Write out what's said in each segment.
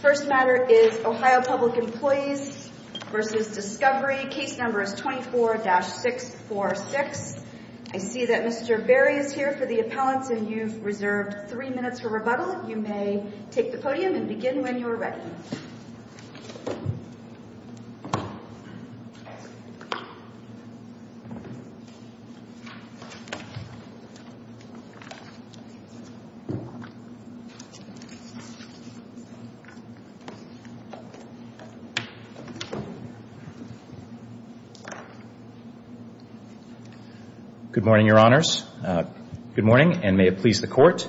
First matter is Ohio Public Employees v. Discovery. Case number is 24-646. I see that Mr. Berry is here for the appellants and you've reserved three minutes for rebuttal. You may take the podium and begin when you're ready. Good morning, Your Honors. Good morning, and may it please the Court.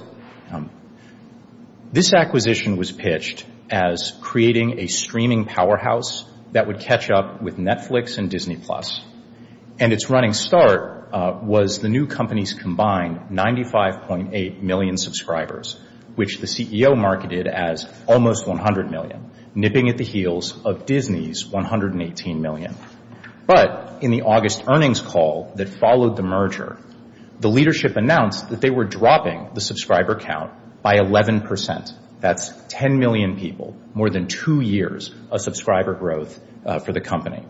This acquisition was pitched as creating a streaming powerhouse that would catch up with Netflix and Disney Plus. And its running start was the new company's combined 95.8 million subscribers, which the CEO marketed as almost double the number of subscribers. And the acquisition was a success. And the acquisition was a success. But in the August earnings call that followed the merger, the leadership announced that they were dropping the subscriber count by 11 percent. That's 10 million people, more than two years of subscriber growth for the company.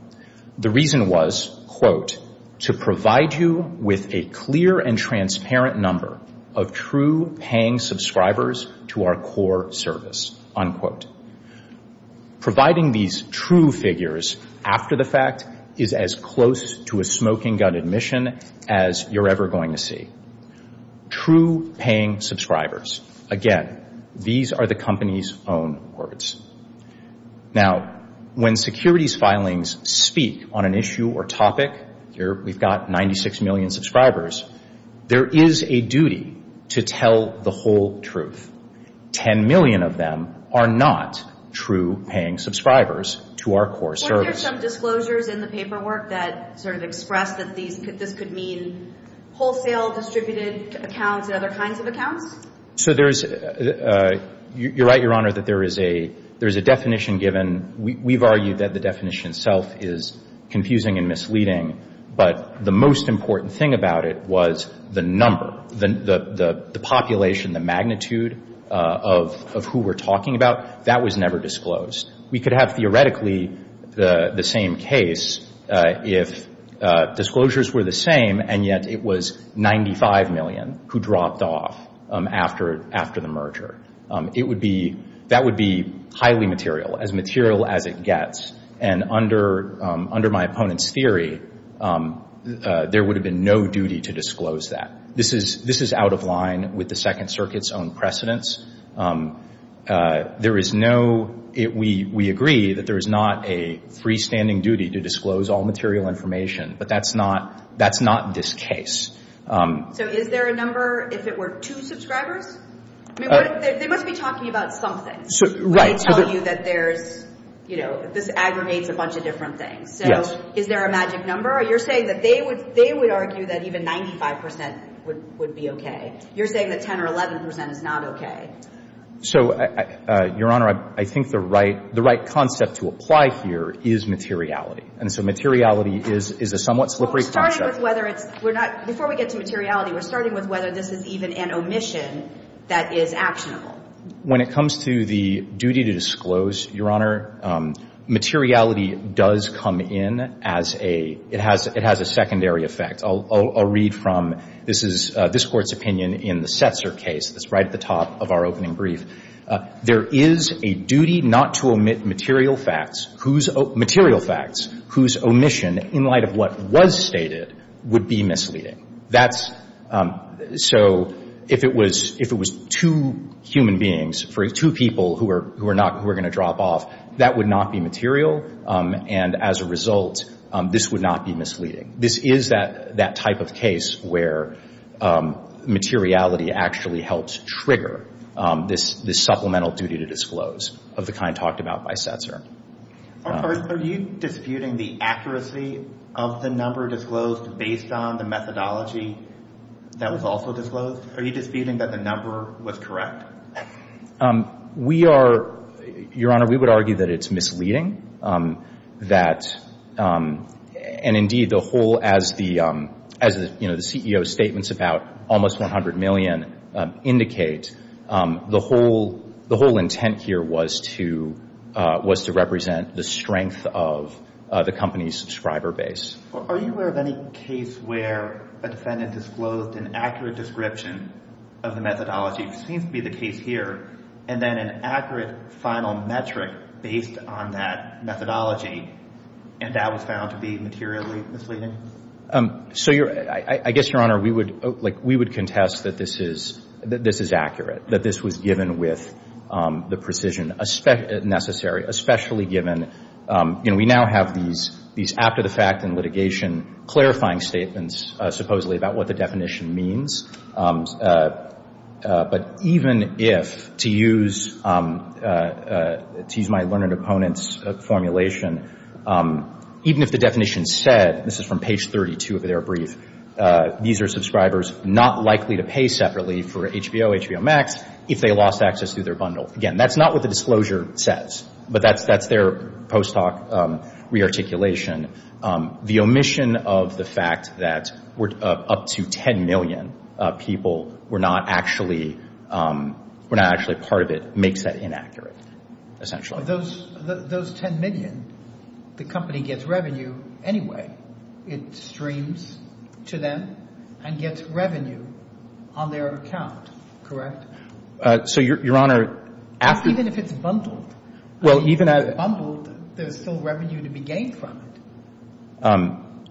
The reason was, quote, to provide you with a clear and transparent number of true paying subscribers to our core service, unquote. Providing these true figures after the fact is as close to a smoking gun admission as you're ever going to see. True paying subscribers. Again, these are the company's own words. Now, when securities filings speak on an issue or topic, here we've got 96 million subscribers, there is a duty to tell the whole truth. Ten million of them are not true paying subscribers to our core service. Weren't there some disclosures in the paperwork that sort of expressed that this could mean wholesale distributed accounts and other kinds of accounts? So there is, you're right, Your Honor, that there is a definition given. We've argued that the definition itself is confusing and misleading. But the most important thing about it was the number, the population, the magnitude of who we're talking about. That was never disclosed. We could have theoretically the same case if disclosures were the same and yet it was 95 million who dropped off after the merger. It would be, that would be highly material, as material as it gets. And under my opponent's theory, there would have been no duty to disclose that. This is out of line with the Second Circuit's own precedence. There is no, we agree that there is not a freestanding duty to disclose all material information. But that's not, that's not this case. So is there a number if it were two subscribers? I mean, they must be talking about something. Right. When they tell you that there's, you know, this aggregates a bunch of different things. Yes. So is there a magic number? You're saying that they would argue that even 95 percent would be okay. You're saying that 10 or 11 percent is not okay. So, Your Honor, I think the right concept to apply here is materiality. And so materiality is a somewhat slippery concept. Well, we're starting with whether it's, we're not, before we get to materiality, we're starting with whether this is even an omission that is actionable. When it comes to the duty to disclose, Your Honor, materiality does come in as a, it has a secondary effect. I'll read from, this is this Court's opinion in the Setzer case that's right at the top of our opening brief. There is a duty not to omit material facts whose, material facts whose omission in light of what was stated would be misleading. That's, so if it was, if it was two human beings, two people who are not, who are going to drop off, that would not be material. And as a result, this would not be misleading. This is that type of case where materiality actually helps trigger this supplemental duty to disclose of the kind talked about by Setzer. Are you disputing the accuracy of the number disclosed based on the methodology that was also disclosed? Are you disputing that the number was correct? We are, Your Honor, we would argue that it's misleading. That, and indeed the whole, as the, as the, you know, the CEO's statements about almost 100 million indicate, the whole, the whole intent here was to, was to represent the strength of the company's subscriber base. Are you aware of any case where a defendant disclosed an accurate description of the methodology, which seems to be the case here, and then an accurate final metric based on that methodology, and that was found to be materially misleading? So you're, I guess, Your Honor, we would, like, we would contest that this is, that this is accurate, that this was given with the precision necessary, especially given, you know, we now have these, these after-the-fact and litigation clarifying statements, supposedly, about what the definition means. But even if, to use, to use my learned opponent's formulation, even if the definition said, this is from page 32 of their brief, these are subscribers not likely to pay separately for HBO, HBO Max, if they lost access to their bundle. Again, that's not what the disclosure says, but that's, that's their post hoc re-articulation. The omission of the fact that we're up to 10 million people were not actually, were not actually part of it makes that inaccurate, essentially. Those, those 10 million, the company gets revenue anyway. It streams to them and gets revenue on their account, correct? So, Your Honor, after... Even if it's bundled. Well, even as... If it's bundled, there's still revenue to be gained from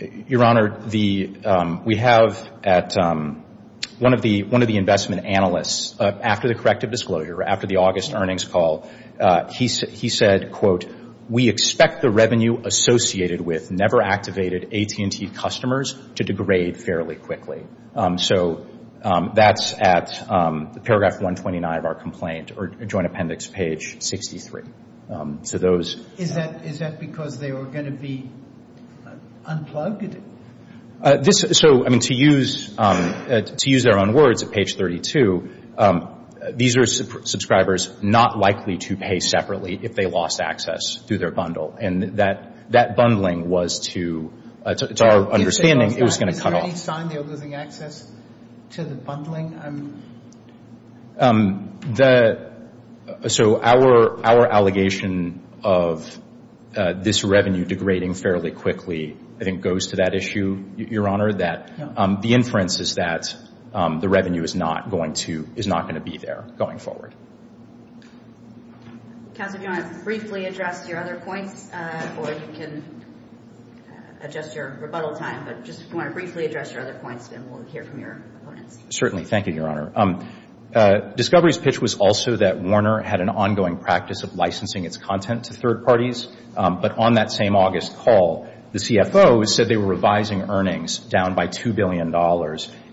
it. Your Honor, the, we have at one of the, one of the investment analysts, after the corrective disclosure, after the August earnings call, he said, quote, we expect the revenue associated with never activated AT&T customers to degrade fairly quickly. So that's at paragraph 129 of our complaint or joint appendix page 63. So those... Is that, is that because they were going to be unplugged? This, so, I mean, to use, to use their own words at page 32, these are subscribers not likely to pay separately if they lost access to their bundle. And that, that bundling was to, to our understanding, it was going to cut off. Is that any sign they're losing access to the bundling? The, so our, our allegation of this revenue degrading fairly quickly, I think, goes to that issue, Your Honor, that the inference is that the revenue is not going to, is not going to be there going forward. Counsel, if you want to briefly address your other points, or you can adjust your rebuttal time, but just if you want to briefly address your other points, then we'll hear from your opponents. Certainly. Thank you, Your Honor. Discovery's pitch was also that Warner had an ongoing practice of licensing its content to third parties. But on that same August call, the CFO said they were revising earnings down by $2 billion.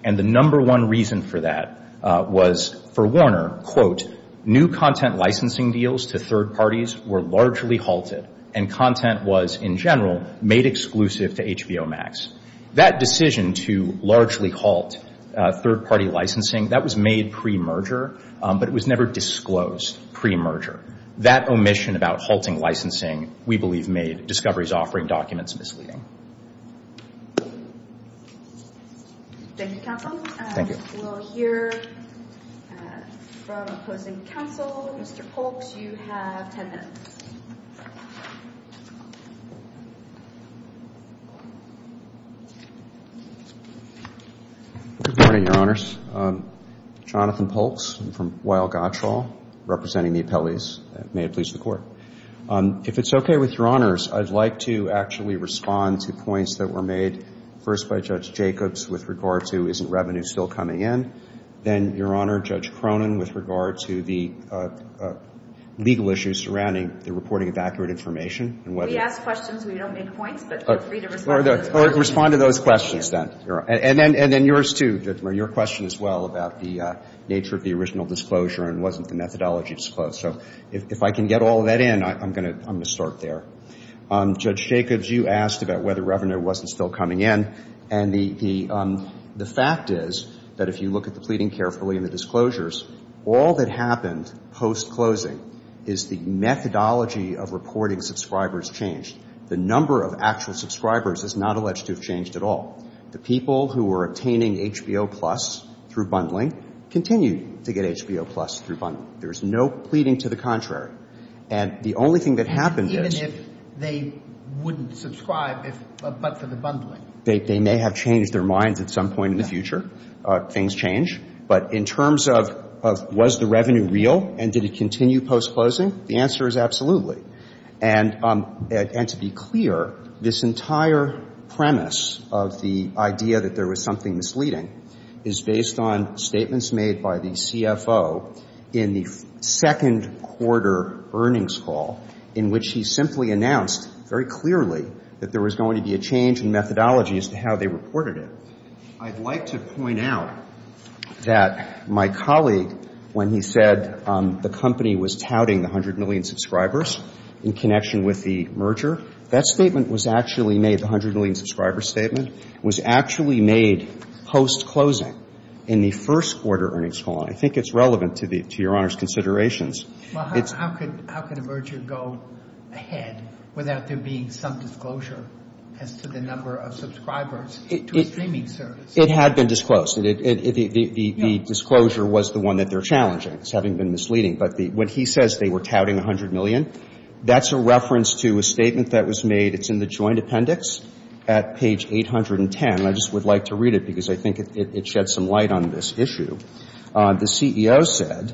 And the number one reason for that was for Warner, quote, new content licensing deals to third parties were largely halted, and content was, in general, made exclusive to HBO Max. That decision to largely halt third-party licensing, that was made pre-merger, but it was never disclosed pre-merger. That omission about halting licensing, we believe, made Discovery's offering documents misleading. Thank you, Counsel. Thank you. We will hear from opposing counsel. Mr. Polks, you have ten minutes. Good morning, Your Honors. Jonathan Polks. I'm from Weill-Gottschall, representing the appellees. May it please the Court. If it's okay with Your Honors, I'd like to actually respond to points that were made, first by Judge Jacobs, with regard to, isn't revenue still coming in? Then, Your Honor, Judge Cronin, with regard to the legal issues surrounding the reporting of accurate information. We ask questions. We don't make points, but feel free to respond to those questions. Respond to those questions, then. And then yours, too. Your question as well about the nature of the original disclosure and wasn't the methodology disclosed. So if I can get all of that in, I'm going to start there. Judge Jacobs, you asked about whether revenue wasn't still coming in. And the fact is that if you look at the pleading carefully and the disclosures, all that happened post-closing is the methodology of reporting subscribers changed. The number of actual subscribers is not alleged to have changed at all. The people who were obtaining HBO Plus through bundling continued to get HBO Plus through bundling. There was no pleading to the contrary. And the only thing that happened is they wouldn't subscribe but for the bundling. They may have changed their minds at some point in the future. Things change. But in terms of was the revenue real and did it continue post-closing, the answer is absolutely. And to be clear, this entire premise of the idea that there was something misleading is based on statements made by the CFO in the second quarter earnings call in which he simply announced very clearly that there was going to be a change in methodology as to how they reported it. I'd like to point out that my colleague, when he said the company was touting the 100 million subscribers in connection with the merger, that statement was actually made, the 100 million subscribers statement, was actually made post-closing in the first quarter earnings call. And I think it's relevant to the — to Your Honor's considerations. Well, how could a merger go ahead without there being some disclosure as to the number of subscribers to a streaming service? It had been disclosed. The disclosure was the one that they're challenging as having been misleading. But when he says they were touting 100 million, that's a reference to a statement that was made. It's in the joint appendix at page 810. And I just would like to read it because I think it sheds some light on this issue. The CEO said,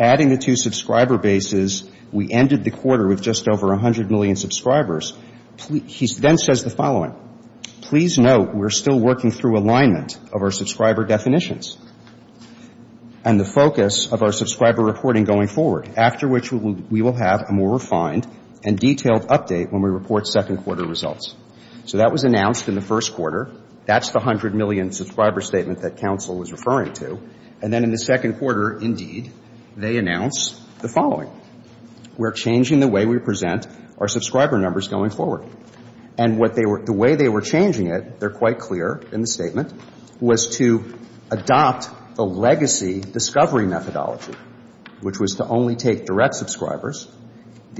adding the two subscriber bases, we ended the quarter with just over 100 million subscribers. He then says the following, please note we're still working through alignment of our subscriber definitions and the focus of our subscriber reporting going forward, after which we will have a more refined and detailed update when we report second quarter results. So that was announced in the first quarter. That's the 100 million subscriber statement that counsel was referring to. And then in the second quarter, indeed, they announced the following. We're changing the way we present our subscriber numbers going forward. And what they were — the way they were changing it, they're quite clear in the statement, was to adopt the legacy discovery methodology, which was to only take direct subscribers.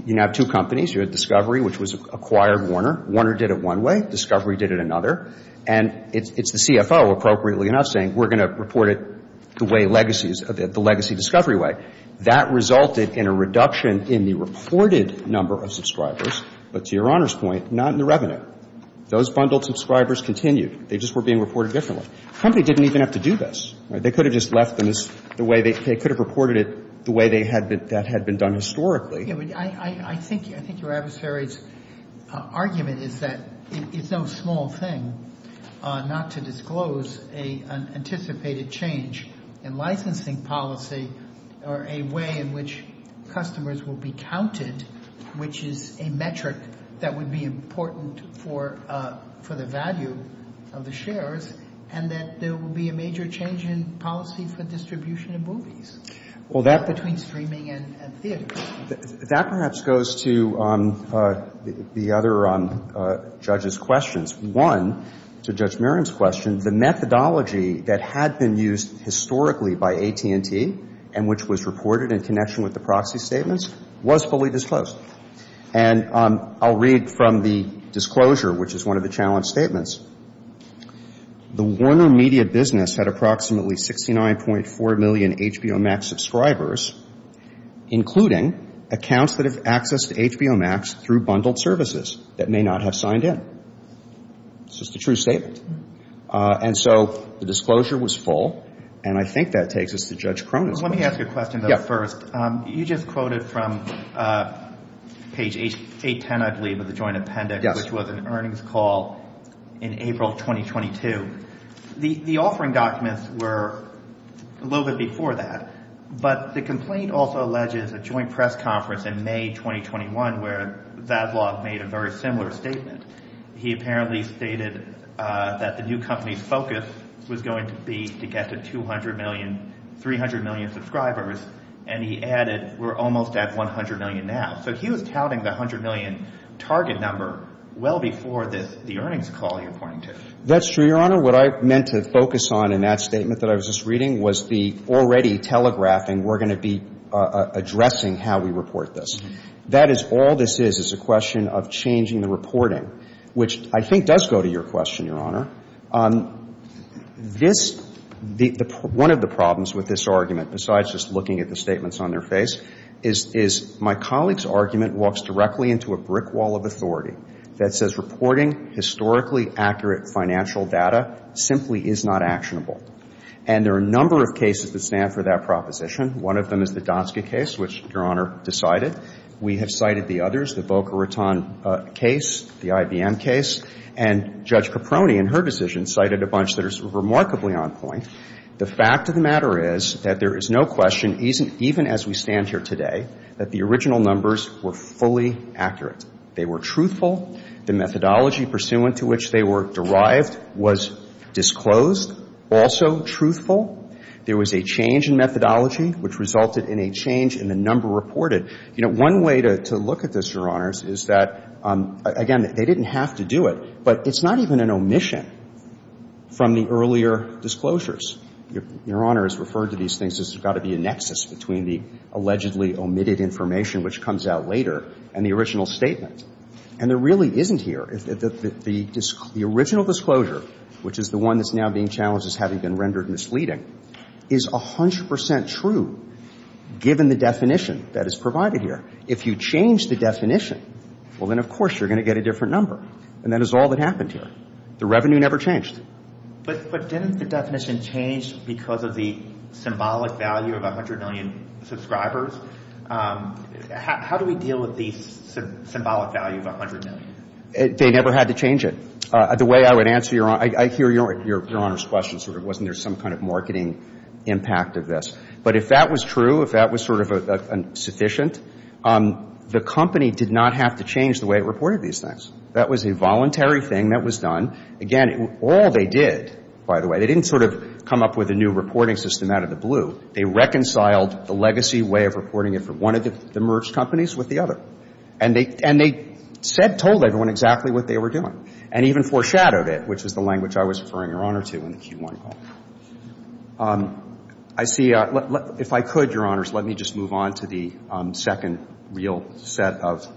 You now have two companies. You had Discovery, which was acquired Warner. Warner did it one way. Discovery did it another. And it's the CFO, appropriately enough, saying we're going to report it the way legacies — the legacy discovery way. That resulted in a reduction in the reported number of subscribers, but to Your Honor's point, not in the revenue. Those bundled subscribers continued. They just were being reported differently. The company didn't even have to do this. They could have just left them as the way they — they could have reported it the way they had been — that had been done historically. I think your adversary's argument is that it's no small thing not to disclose an anticipated change in licensing policy or a way in which customers will be counted, which is a metric that would be important for the value of the shares, and that there will be a major change in policy for distribution of movies. Well, that — Between streaming and theater. That perhaps goes to the other judge's questions. One, to Judge Merriman's question, the methodology that had been used historically by AT&T and which was reported in connection with the proxy statements was fully disclosed. And I'll read from the disclosure, which is one of the challenge statements. The Warner Media business had approximately 69.4 million HBO Max subscribers, including accounts that have access to HBO Max through bundled services that may not have signed in. It's just a true statement. And so the disclosure was full, and I think that takes us to Judge Cronin's question. Let me ask you a question, though, first. You just quoted from page 810, I believe, of the joint appendix — Yes. — which was an earnings call in April 2022. The offering documents were a little bit before that, but the complaint also alleges a joint press conference in May 2021 where Zaslav made a very similar statement. He apparently stated that the new company's focus was going to be to get to 200 million, 300 million subscribers, and he added, we're almost at 100 million now. So he was touting the 100 million target number well before the earnings call you're pointing to. That's true, Your Honor. What I meant to focus on in that statement that I was just reading was the already telegraphing, we're going to be addressing how we report this. That is — all this is is a question of changing the reporting, which I think does go to your question, Your Honor. This — one of the problems with this argument, besides just looking at the statements on their face, is my colleague's argument walks directly into a brick wall of authority that says reporting historically accurate financial data simply is not actionable. And there are a number of cases that stand for that proposition. One of them is the Dotska case, which Your Honor decided. We have cited the others, the Boca Raton case, the IBM case. And Judge Caproni, in her decision, cited a bunch that are remarkably on point. The fact of the matter is that there is no question, even as we stand here today, that the original numbers were fully accurate. They were truthful. The methodology pursuant to which they were derived was disclosed, also truthful. There was a change in methodology, which resulted in a change in the number reported. You know, one way to look at this, Your Honors, is that, again, they didn't have to do it. But it's not even an omission from the earlier disclosures. Your Honor has referred to these things as there's got to be a nexus between the allegedly omitted information, which comes out later, and the original statement. And there really isn't here. The original disclosure, which is the one that's now being challenged as having been rendered misleading, is 100 percent true, given the definition that is provided here. If you change the definition, well, then, of course, you're going to get a different number. And that is all that happened here. The revenue never changed. But didn't the definition change because of the symbolic value of 100 million subscribers? How do we deal with the symbolic value of 100 million? They never had to change it. The way I would answer your Honor's question sort of wasn't there some kind of marketing impact of this. But if that was true, if that was sort of sufficient, the company did not have to change it. That was a voluntary thing that was done. Again, all they did, by the way, they didn't sort of come up with a new reporting system out of the blue. They reconciled the legacy way of reporting it for one of the merged companies with the other. And they said, told everyone exactly what they were doing, and even foreshadowed it, which is the language I was referring, Your Honor, to in the Q1 call. I see a – if I could, Your Honors, let me just move on to the second real set of issues.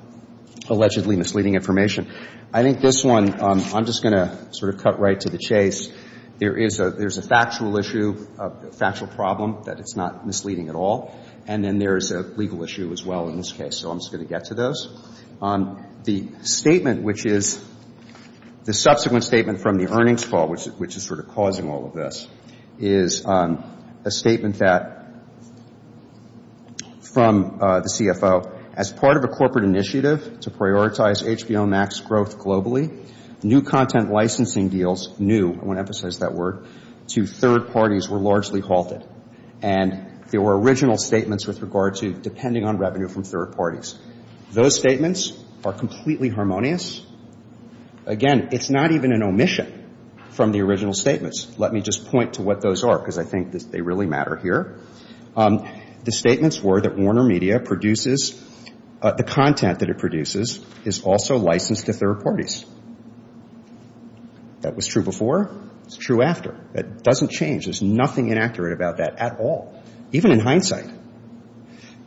I think this one I'm just going to sort of cut right to the chase. There is a factual issue, a factual problem that it's not misleading at all. And then there is a legal issue as well in this case. So I'm just going to get to those. The statement which is – the subsequent statement from the earnings call, which is sort of causing all of this, is a statement that from the CFO, as part of a corporate initiative to prioritize HBO Max growth globally, new content licensing deals – new, I want to emphasize that word – to third parties were largely halted. And there were original statements with regard to depending on revenue from third parties. Those statements are completely harmonious. Again, it's not even an omission from the original statements. Let me just point to what those are, because I think that they really matter here. The statements were that WarnerMedia produces – the content that it produces is also licensed to third parties. That was true before. It's true after. It doesn't change. There's nothing inaccurate about that at all, even in hindsight.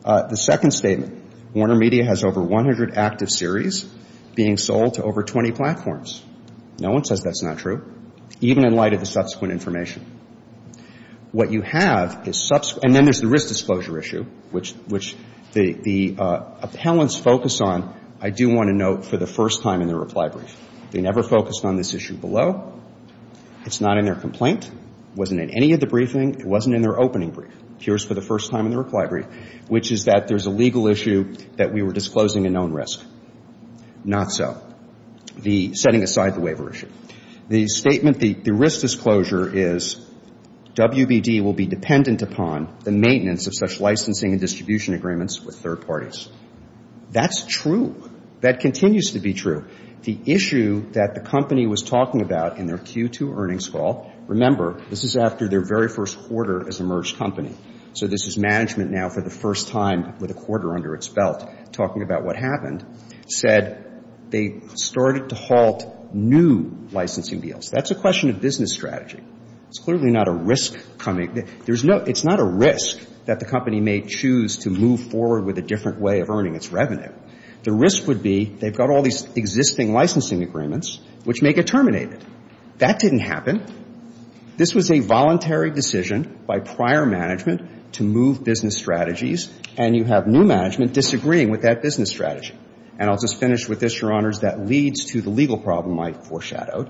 The second statement, WarnerMedia has over 100 active series being sold to over 20 platforms. No one says that's not true, even in light of the subsequent information. What you have is – and then there's the risk disclosure issue, which the appellants focus on, I do want to note, for the first time in their reply brief. They never focused on this issue below. It's not in their complaint. It wasn't in any of the briefing. It wasn't in their opening brief. Here's for the first time in the reply brief, which is that there's a legal issue that we were disclosing a known risk. Not so. The setting aside the waiver issue. The statement – the risk disclosure is WBD will be dependent upon the maintenance of such licensing and distribution agreements with third parties. That's true. That continues to be true. The issue that the company was talking about in their Q2 earnings call – remember, this is after their very first quarter as a merged company, so this is management now for the first time with a quarter under its belt talking about what happened – said that they started to halt new licensing deals. That's a question of business strategy. It's clearly not a risk coming – there's no – it's not a risk that the company may choose to move forward with a different way of earning its revenue. The risk would be they've got all these existing licensing agreements, which may get That didn't happen. This was a voluntary decision by prior management to move business strategies, and you have new management disagreeing with that business strategy. And I'll just finish with this, Your Honors. That leads to the legal problem I foreshadowed,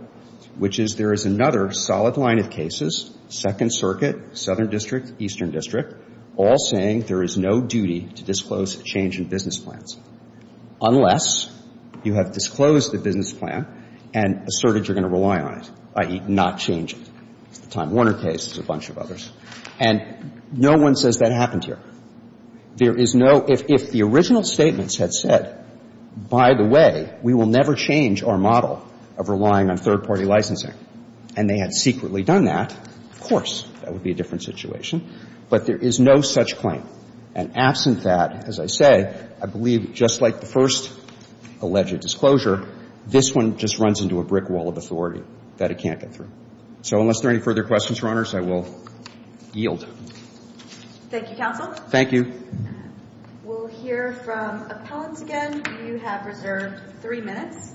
which is there is another solid line of cases, Second Circuit, Southern District, Eastern District, all saying there is no duty to disclose change in business plans unless you have disclosed the business plan and asserted you're going to rely on it, i.e., not change it. It's the Time Warner case. There's a bunch of others. And no one says that happened here. There is no – if the original statements had said, by the way, we will never change our model of relying on third-party licensing, and they had secretly done that, of course that would be a different situation. But there is no such claim. And absent that, as I say, I believe just like the first alleged disclosure, this one just runs into a brick wall of authority that it can't get through. So unless there are any further questions, Your Honors, I will yield. Thank you, Counsel. Thank you. We'll hear from appellants again. You have reserved three minutes.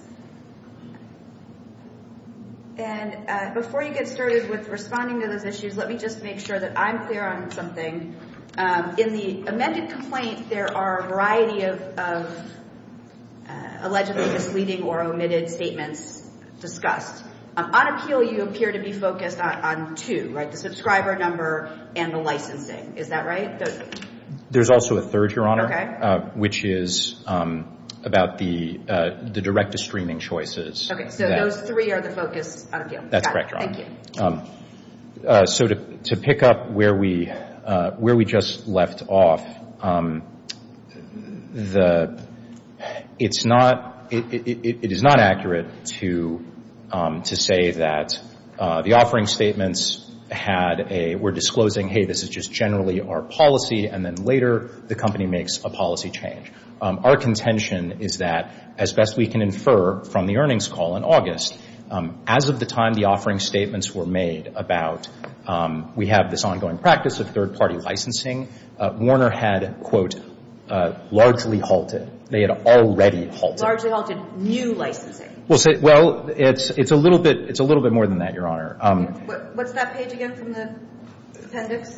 And before you get started with responding to those issues, let me just make sure that I'm clear on something. In the amended complaint, there are a variety of allegedly misleading or omitted statements discussed. On appeal, you appear to be focused on two, right? And the licensing. Is that right? There's also a third, Your Honor. Okay. Which is about the direct-to-streaming choices. Okay. So those three are the focus on appeal. That's correct, Your Honor. Thank you. So to pick up where we just left off, it's not – it is not accurate to say that the offering statements had a – were disclosing, hey, this is just generally our policy, and then later the company makes a policy change. Our contention is that, as best we can infer from the earnings call in August, as of the time the offering statements were made about we have this ongoing practice of third-party licensing, Warner had, quote, largely halted. They had already halted. Largely halted new licensing. Well, it's a little bit more than that, Your Honor. What's that page again from the appendix?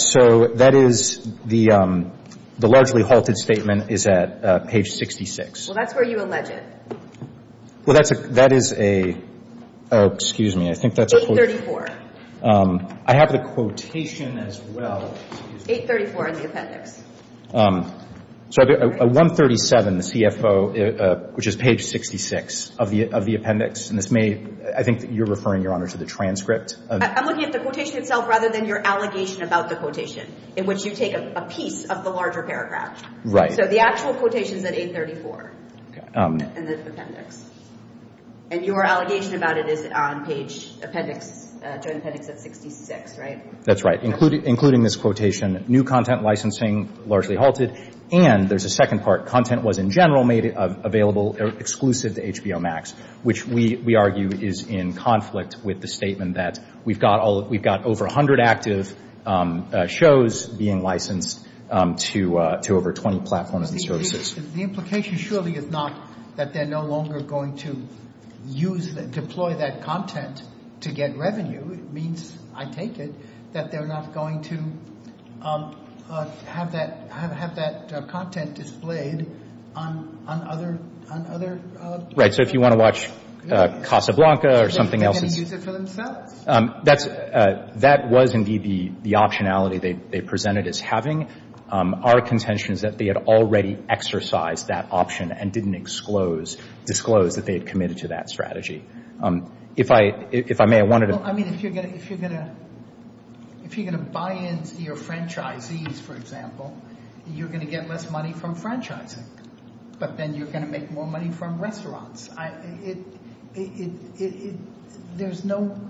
So that is the largely halted statement is at page 66. Well, that's where you allege it. Well, that is a – oh, excuse me. I think that's a quote. I have the quotation as well. 834 in the appendix. So 137, the CFO, which is page 66 of the appendix, and this may – I think that you're referring, Your Honor, to the transcript. I'm looking at the quotation itself rather than your allegation about the quotation, in which you take a piece of the larger paragraph. Right. So the actual quotation is at 834 in the appendix. And your allegation about it is on page appendix – joint appendix at 66, right? That's right. Including this quotation, new content licensing largely halted. And there's a second part. Content was in general made available exclusive to HBO Max, which we argue is in conflict with the statement that we've got over 100 active shows being licensed to over 20 platforms and services. The implication surely is not that they're no longer going to use – deploy that content to get revenue. It means, I take it, that they're not going to have that – have that content displayed on other – on other – Right. So if you want to watch Casablanca or something else – They can use it for themselves. That's – that was indeed the optionality they presented as having. Our contention is that they had already exercised that option and didn't disclose that they had committed to that strategy. If I may, I wanted to – Well, I mean, if you're going to – if you're going to – if you're going to buy into your franchisees, for example, you're going to get less money from franchising. But then you're going to make more money from restaurants. It – there's no –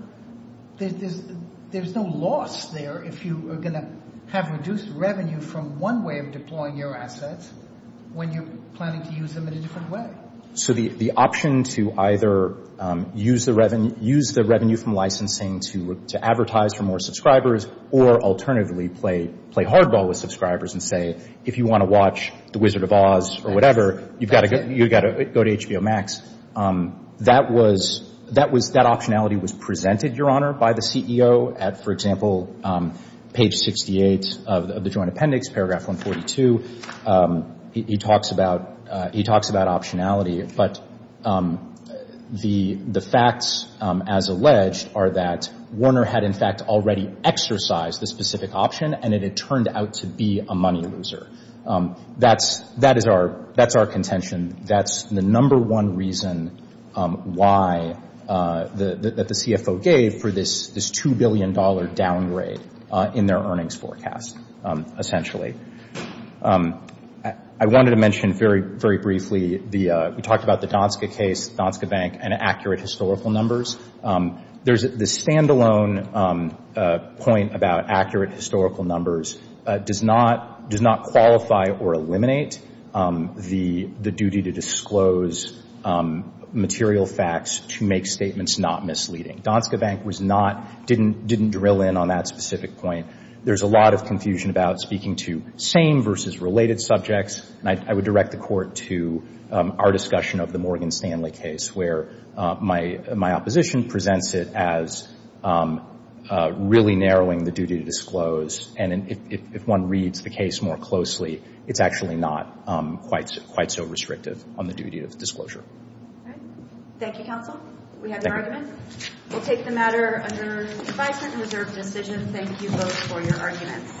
there's no loss there if you are going to have reduced revenue from one way of deploying your assets when you're planning to use them in a different way. So the option to either use the revenue from licensing to advertise for more subscribers or alternatively play hardball with subscribers and say, if you want to watch The Wizard of Oz or whatever, you've got to go to HBO Max, that was – that optionality was presented, Your Honor, by the CEO at, for example, page 68 of the joint appendix, paragraph 142. He talks about – he talks about optionality, but the facts, as alleged, are that Warner had, in fact, already exercised the specific option and it had turned out to be a money loser. That's – that is our – that's our contention. That's the number one reason why – that the CFO gave for this $2 billion downgrade in their earnings forecast, essentially. I wanted to mention very, very briefly the – we talked about the Donska case, Donska Bank, and accurate historical numbers. There's – the standalone point about accurate historical numbers does not – does not qualify or eliminate the duty to disclose material facts to make statements not misleading. Donska Bank was not – didn't drill in on that specific point. There's a lot of confusion about speaking to same versus related subjects, and I would direct the Court to our discussion of the Morgan Stanley case, where my opposition presents it as really narrowing the duty to disclose, and if one reads the case more closely, it's actually not quite so restrictive on the duty of disclosure. All right. Thank you, Counsel. We have your argument. We'll take the matter under advisement and reserve decision. Thank you both for your arguments.